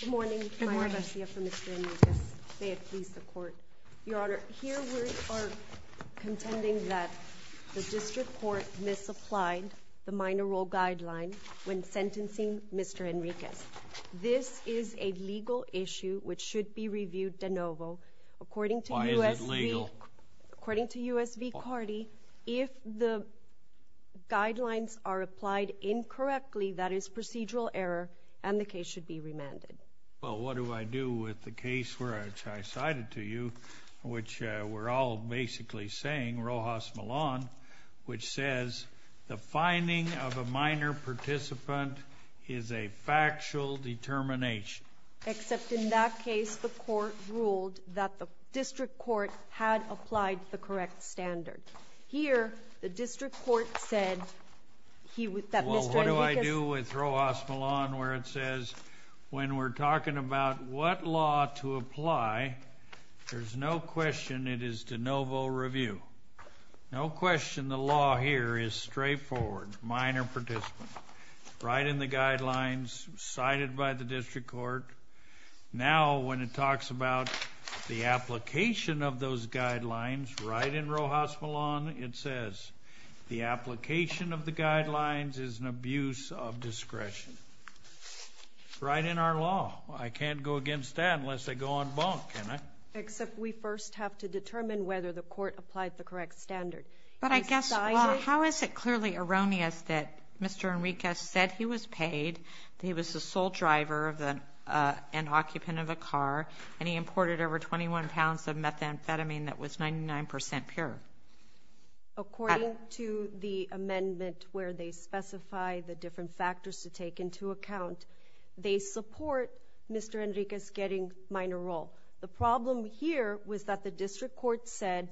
Good morning, Mayor Garcia for Mr. Enriquez. May it please the Court. Your Honor, here we are contending that the District Court misapplied the minor role guideline when sentencing Mr. Enriquez. This is a legal issue which should be reviewed de novo. According to U.S. v. Cardi, if the guidelines are applied incorrectly, that is procedural error, and the case should be remanded. Well, what do I do with the case which I cited to you, which we're all basically saying, Rojas Millan, which says the finding of a minor participant is a factual determination? Except in that case, the Court ruled that the District Court had applied the correct standard. Here, the District Court said that Mr. Enriquez What do I do with Rojas Millan where it says when we're talking about what law to apply, there's no question it is de novo review. No question the law here is straightforward, minor participant. Right in the guidelines cited by the District Court. Now, when it talks about the application of those guidelines, right in Rojas Millan, it says the application of the guidelines is an abuse of discretion. Right in our law. I can't go against that unless I go on bunk, can I? Except we first have to determine whether the Court applied the correct standard. But I guess, how is it clearly erroneous that Mr. Enriquez said he was paid, that he was the sole driver and occupant of a car, and he imported over 21 pounds of methamphetamine that was 99 percent pure? According to the amendment where they specify the different factors to take into account, they support Mr. Enriquez getting minor role. The problem here was that the District Court said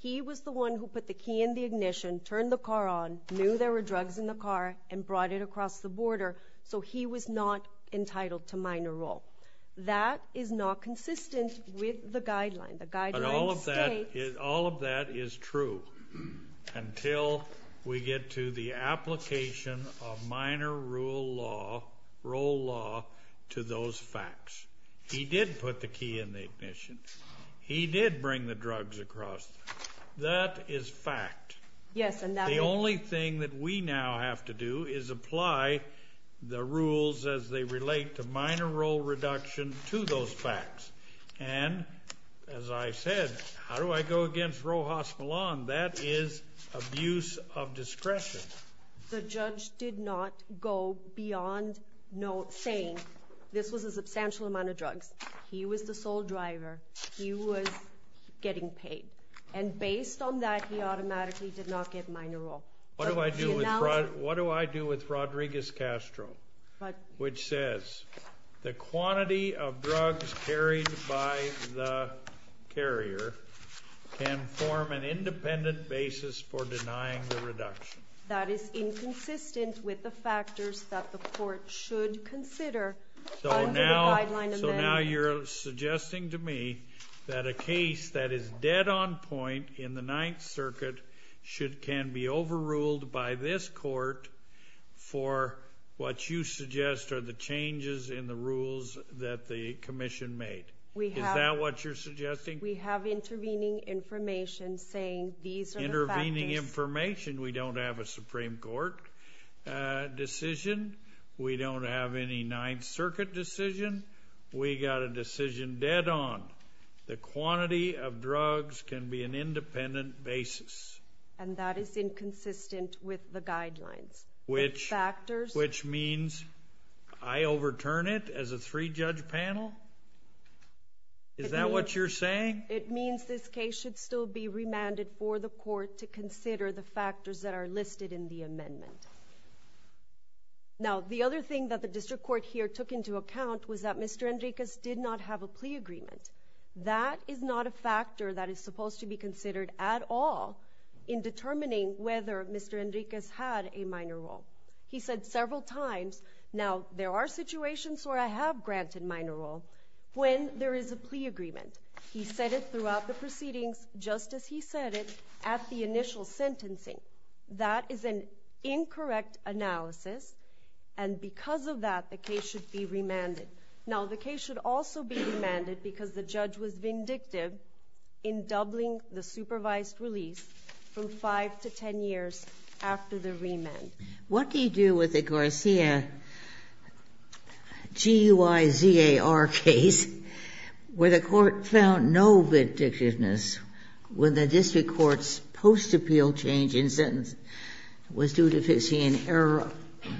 he was the one who put the key in the ignition, turned the car on, knew there were drugs in the car, and brought it across the border, so he was not entitled to minor role. That is not consistent with the guidelines. But all of that is true until we get to the application of minor role law to those facts. He did put the key in the ignition. He did bring the drugs across. That is fact. The only thing that we now have to do is apply the rules as they relate to minor role reduction to those facts. And, as I said, how do I go against Rojas Millan? That is abuse of discretion. The judge did not go beyond saying this was a substantial amount of drugs. He was the sole driver. He was getting paid. And based on that, he automatically did not get minor role. What do I do with Rodriguez-Castro, which says the quantity of drugs carried by the carrier can form an independent basis for denying the reduction? That is inconsistent with the factors that the court should consider under the Guideline Amendment. So now you're suggesting to me that a case that is dead on point in the Ninth Circuit can be overruled by this court for what you suggest are the changes in the rules that the Commission made. Is that what you're suggesting? We have intervening information saying these are the factors. We don't have a Supreme Court decision. We don't have any Ninth Circuit decision. We got a decision dead on. The quantity of drugs can be an independent basis. And that is inconsistent with the guidelines. Which means I overturn it as a three-judge panel? Is that what you're saying? It means this case should still be remanded for the court to consider the factors that are listed in the amendment. Now the other thing that the District Court here took into account was that Mr. Enriquez did not have a plea agreement. That is not a factor that is supposed to be considered at all in determining whether Mr. Enriquez had a minor role. He said several times, now there are situations where I have granted minor role when there is a plea agreement. He said it throughout the proceedings, just as he said it at the initial sentencing. That is an incorrect analysis, and because of that, the case should be remanded. Now, the case should also be remanded because the judge was vindictive in doubling the supervised release from 5 to 10 years after the remand. What do you do with the Garcia G-Y-Z-A-R case where the court found no vindictiveness when the District Court's post-appeal change in sentence was due to fixing an error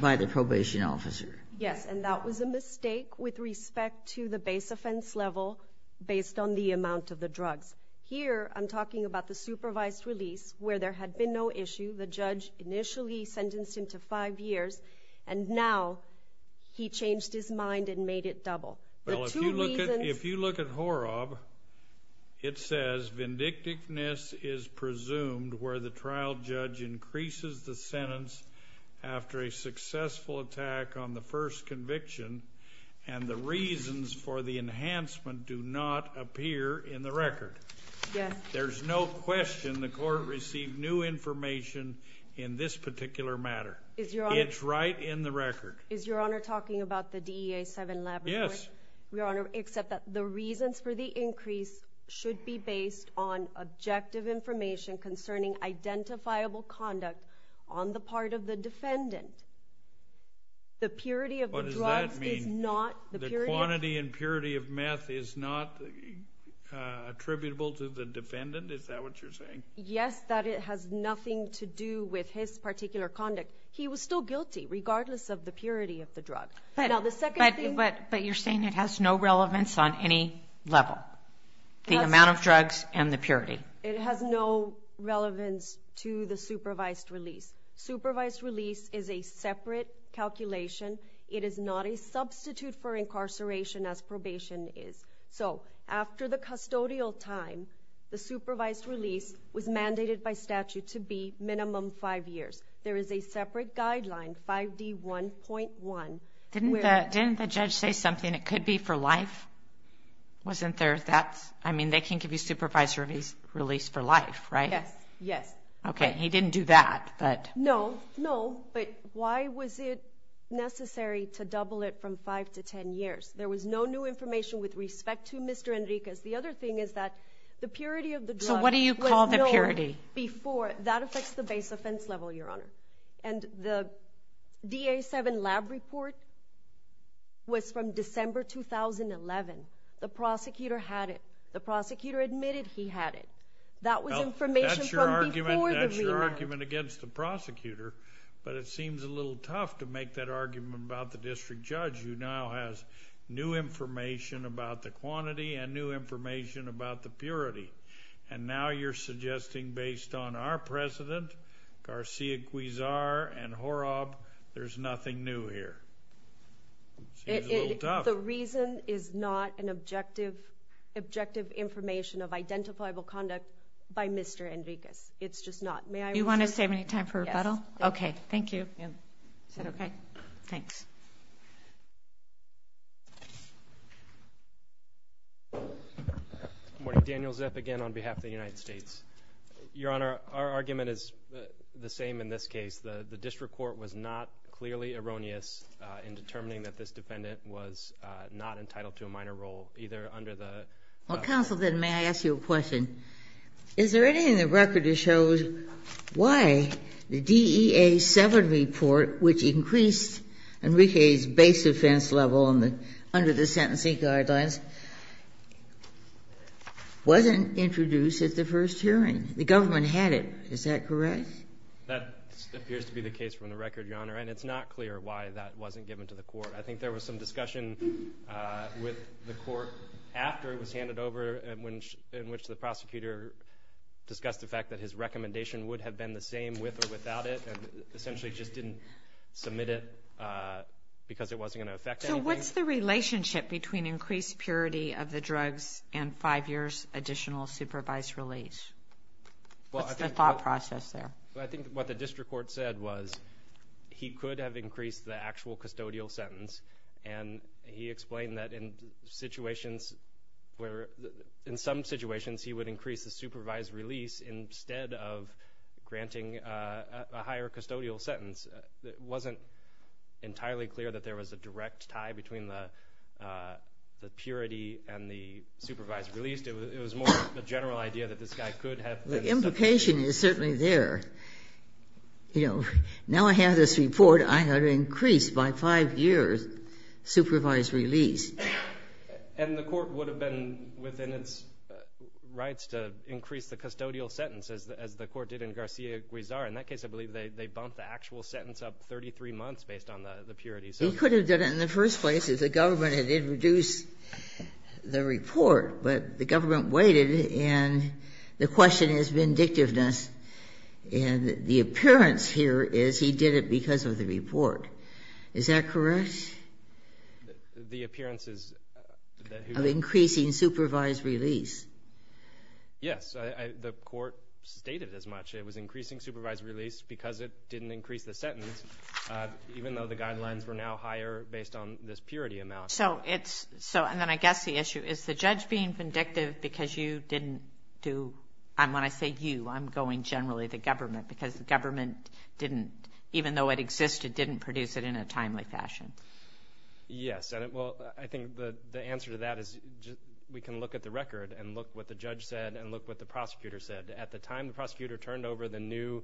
by the probation officer? Yes, and that was a mistake with respect to the base offense level based on the amount of the drugs. Here I'm talking about the supervised release where there had been no issue. The judge initially sentenced him to 5 years, and now he changed his mind and made it double. If you look at HORAB, it says vindictiveness is presumed where the trial judge increases the sentence after a successful attack on the first conviction, and the reasons for the enhancement do not appear in the record. There's no question the court received new information in this particular matter. It's right in the record. Is Your Honor talking about the DEA 7 laboratory? Yes. Your Honor, except that the reasons for the increase should be based on objective information concerning identifiable conduct on the part of the defendant. What does that mean? The quantity and purity of meth is not attributable to the defendant? Is that what you're saying? Yes, that it has nothing to do with his particular conduct. He was still guilty regardless of the purity of the drug. But you're saying it has no relevance on any level, the amount of drugs and the purity? It has no relevance to the supervised release. Supervised release is a separate calculation. It is not a substitute for incarceration as probation is. So after the custodial time, the supervised release was mandated by statute to be minimum five years. There is a separate guideline, 5D1.1. Didn't the judge say something? It could be for life? Wasn't there that? I mean, they can give you supervised release for life, right? Yes, yes. Okay, he didn't do that. No, no, but why was it necessary to double it from five to ten years? There was no new information with respect to Mr. Enriquez. The other thing is that the purity of the drug was known before. So what do you call the purity? That affects the base offense level, Your Honor. And the DA7 lab report was from December 2011. The prosecutor had it. The prosecutor admitted he had it. That was information from before the remand. That's your argument against the prosecutor, but it seems a little tough to make that argument about the district judge, who now has new information about the quantity and new information about the purity. And now you're suggesting, based on our precedent, Garcia Guizar and Horab, there's nothing new here. It seems a little tough. The reason is not an objective information of identifiable conduct by Mr. Enriquez. It's just not. You want to save any time for rebuttal? Okay, thank you. Is that okay? Thanks. Good morning. Daniel Zip again on behalf of the United States. Your Honor, our argument is the same in this case. The district court was not clearly erroneous in determining that this defendant was not entitled to a minor role, either under the ---- Well, counsel, then, may I ask you a question? Is there anything in the record that shows why the DEA7 report, which increased Enriquez's base offense level under the sentencing guidelines, wasn't introduced at the first hearing? The government had it. Is that correct? That appears to be the case from the record, Your Honor, and it's not clear why that wasn't given to the court. I think there was some discussion with the court after it was handed over, in which the prosecutor discussed the fact that his recommendation would have been the same with or without it, and essentially just didn't submit it because it wasn't going to affect anything. So what's the relationship between increased purity of the drugs and five years' additional supervised release? What's the thought process there? I think what the district court said was he could have increased the actual custodial sentence, and he explained that in some situations he would increase the supervised release instead of granting a higher custodial sentence. It wasn't entirely clear that there was a direct tie between the purity and the supervised release. At least it was more of a general idea that this guy could have been. The implication is certainly there. You know, now I have this report. I have to increase by five years supervised release. And the court would have been within its rights to increase the custodial sentence, as the court did in Garcia-Guizar. In that case, I believe they bumped the actual sentence up 33 months based on the purity. He could have done it in the first place if the government had introduced the report, but the government waited, and the question is vindictiveness. And the appearance here is he did it because of the report. Is that correct? The appearance is that he was increasing supervised release. Yes. The court stated as much. It was increasing supervised release because it didn't increase the sentence, even though the guidelines were now higher based on this purity amount. So it's so, and then I guess the issue is the judge being vindictive because you didn't do, and when I say you, I'm going generally the government, because the government didn't, even though it existed, didn't produce it in a timely fashion. Yes. Well, I think the answer to that is we can look at the record and look what the judge said and look what the prosecutor said. At the time the prosecutor turned over the new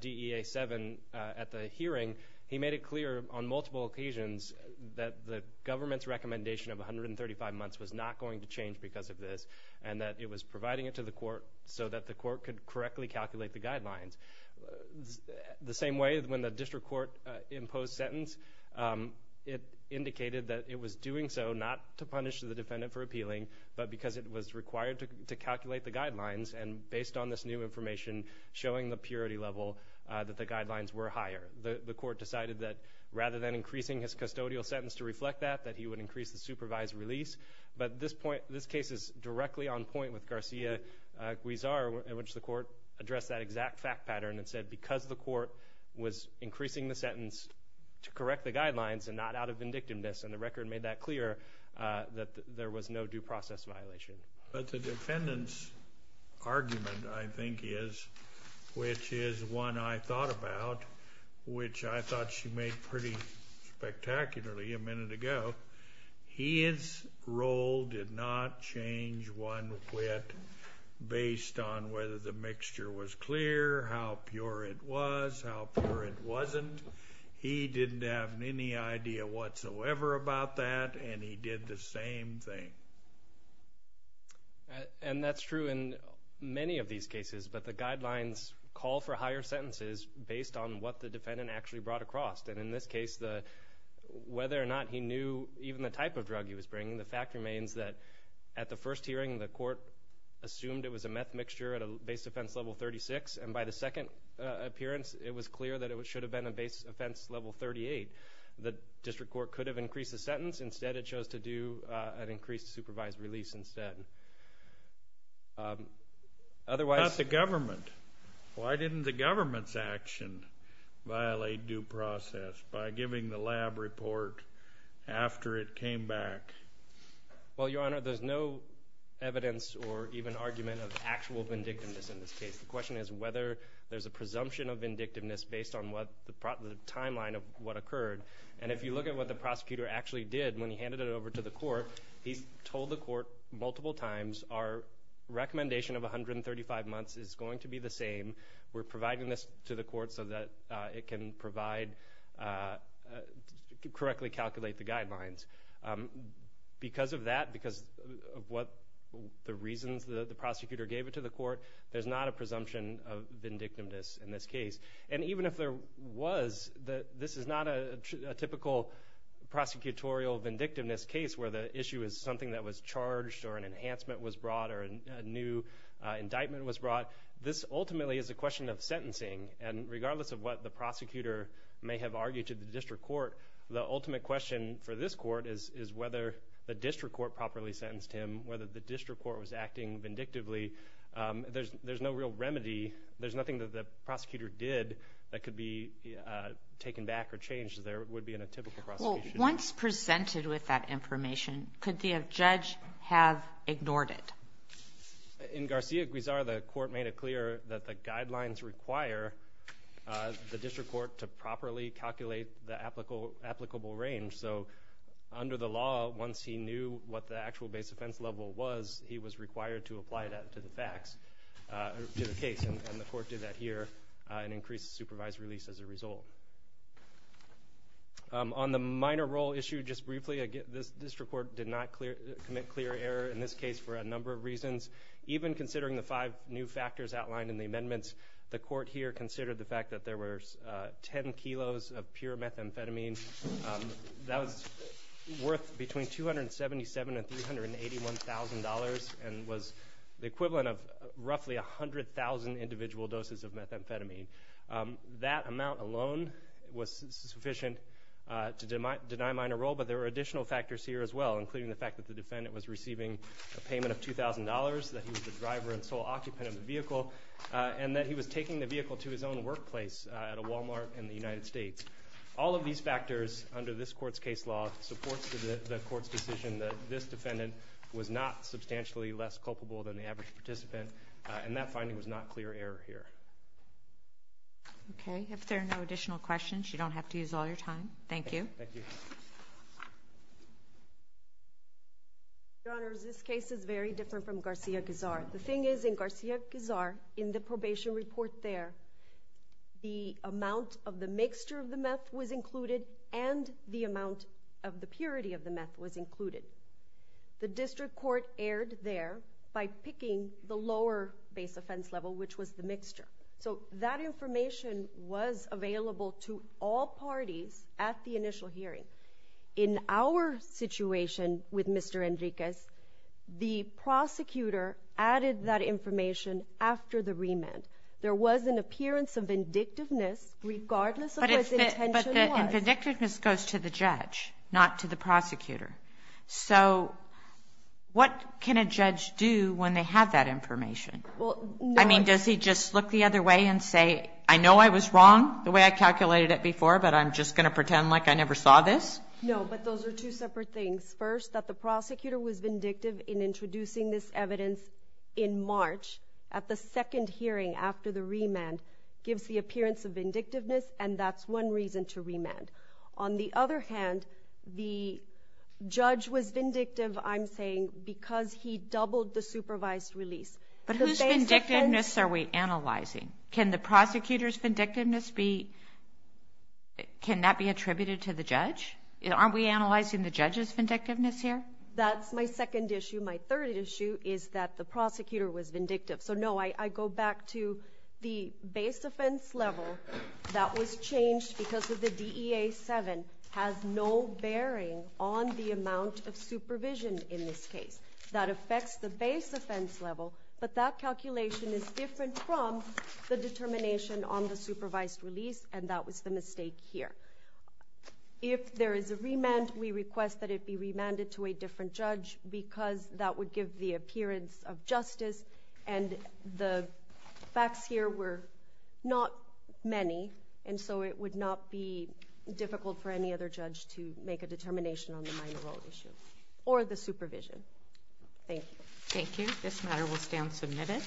DEA 7 at the hearing, he made it clear on multiple occasions that the government's recommendation of 135 months was not going to change because of this, and that it was providing it to the court so that the court could correctly calculate the guidelines. The same way when the district court imposed sentence, it indicated that it was doing so not to punish the defendant for appealing, but because it was required to calculate the guidelines, and based on this new information, showing the purity level that the guidelines were higher. The court decided that rather than increasing his custodial sentence to reflect that, that he would increase the supervised release, but this case is directly on point with Garcia-Guizar, in which the court addressed that exact fact pattern and said because the court was increasing the sentence to correct the guidelines and not out of vindictiveness, and the record made that clear, that there was no due process violation. But the defendant's argument, I think, is, which is one I thought about, which I thought she made pretty spectacularly a minute ago, his role did not change one whit based on whether the mixture was clear, how pure it was, how pure it wasn't. He didn't have any idea whatsoever about that, and he did the same thing. And that's true in many of these cases, but the guidelines call for higher sentences based on what the defendant actually brought across. And in this case, whether or not he knew even the type of drug he was bringing, the fact remains that at the first hearing, the court assumed it was a meth mixture at a base defense level 36, and by the second appearance, it was clear that it should have been a base offense level 38. The district court could have increased the sentence. Instead, it chose to do an increased supervised release instead. That's the government. Why didn't the government's action violate due process by giving the lab report after it came back? Well, Your Honor, there's no evidence or even argument of actual vindictiveness in this case. The question is whether there's a presumption of vindictiveness based on the timeline of what occurred. And if you look at what the prosecutor actually did when he handed it over to the court, he told the court multiple times, our recommendation of 135 months is going to be the same. We're providing this to the court so that it can correctly calculate the guidelines. Because of that, because of the reasons the prosecutor gave it to the court, there's not a presumption of vindictiveness in this case. And even if there was, this is not a typical prosecutorial vindictiveness case where the issue is something that was charged or an enhancement was brought or a new indictment was brought. This ultimately is a question of sentencing. And regardless of what the prosecutor may have argued to the district court, the ultimate question for this court is whether the district court properly sentenced him, whether the district court was acting vindictively. There's no real remedy. There's nothing that the prosecutor did that could be taken back or changed as there would be in a typical prosecution. Well, once presented with that information, could the judge have ignored it? In Garcia-Guizar, the court made it clear that the guidelines require the district court to properly calculate the applicable range. So under the law, once he knew what the actual base offense level was, he was required to apply that to the facts, to the case. And the court did that here and increased the supervised release as a result. On the minor role issue, just briefly, this district court did not commit clear error in this case for a number of reasons. Even considering the five new factors outlined in the amendments, the court here considered the fact that there were 10 kilos of pure methamphetamine that was worth between $277,000 and $381,000 and was the equivalent of roughly 100,000 individual doses of methamphetamine. That amount alone was sufficient to deny minor role, but there were additional factors here as well, including the fact that the defendant was receiving a payment of $2,000, that he was the driver and sole occupant of the vehicle, and that he was taking the vehicle to his own workplace at a Walmart in the United States. All of these factors, under this court's case law, supports the court's decision that this defendant was not substantially less culpable than the average participant, and that finding was not clear error here. Okay. If there are no additional questions, you don't have to use all your time. Thank you. Thank you. Your Honors, this case is very different from Garcia-Guzar. The thing is, in Garcia-Guzar, in the probation report there, the amount of the mixture of the meth was included and the amount of the purity of the meth was included. The district court erred there by picking the lower base offense level, which was the mixture. So that information was available to all parties at the initial hearing. In our situation with Mr. Enriquez, the prosecutor added that information after the remand. There was an appearance of vindictiveness regardless of what the intention was. But the vindictiveness goes to the judge, not to the prosecutor. So what can a judge do when they have that information? I mean, does he just look the other way and say, I know I was wrong the way I calculated it before, but I'm just going to pretend like I never saw this? No, but those are two separate things. First, that the prosecutor was vindictive in introducing this evidence in March at the second hearing after the remand gives the appearance of vindictiveness, and that's one reason to remand. On the other hand, the judge was vindictive, I'm saying, because he doubled the supervised release. But whose vindictiveness are we analyzing? Can the prosecutor's vindictiveness be attributed to the judge? Aren't we analyzing the judge's vindictiveness here? That's my second issue. My third issue is that the prosecutor was vindictive. So, no, I go back to the base offense level that was changed because of the DEA 7 has no bearing on the amount of supervision in this case. That affects the base offense level, but that calculation is different from the determination on the supervised release, and that was the mistake here. If there is a remand, we request that it be remanded to a different judge because that would give the appearance of justice, and the facts here were not many, and so it would not be difficult for any other judge to make a determination on the minor role issue or the supervision. Thank you. Thank you. This matter will stand submitted.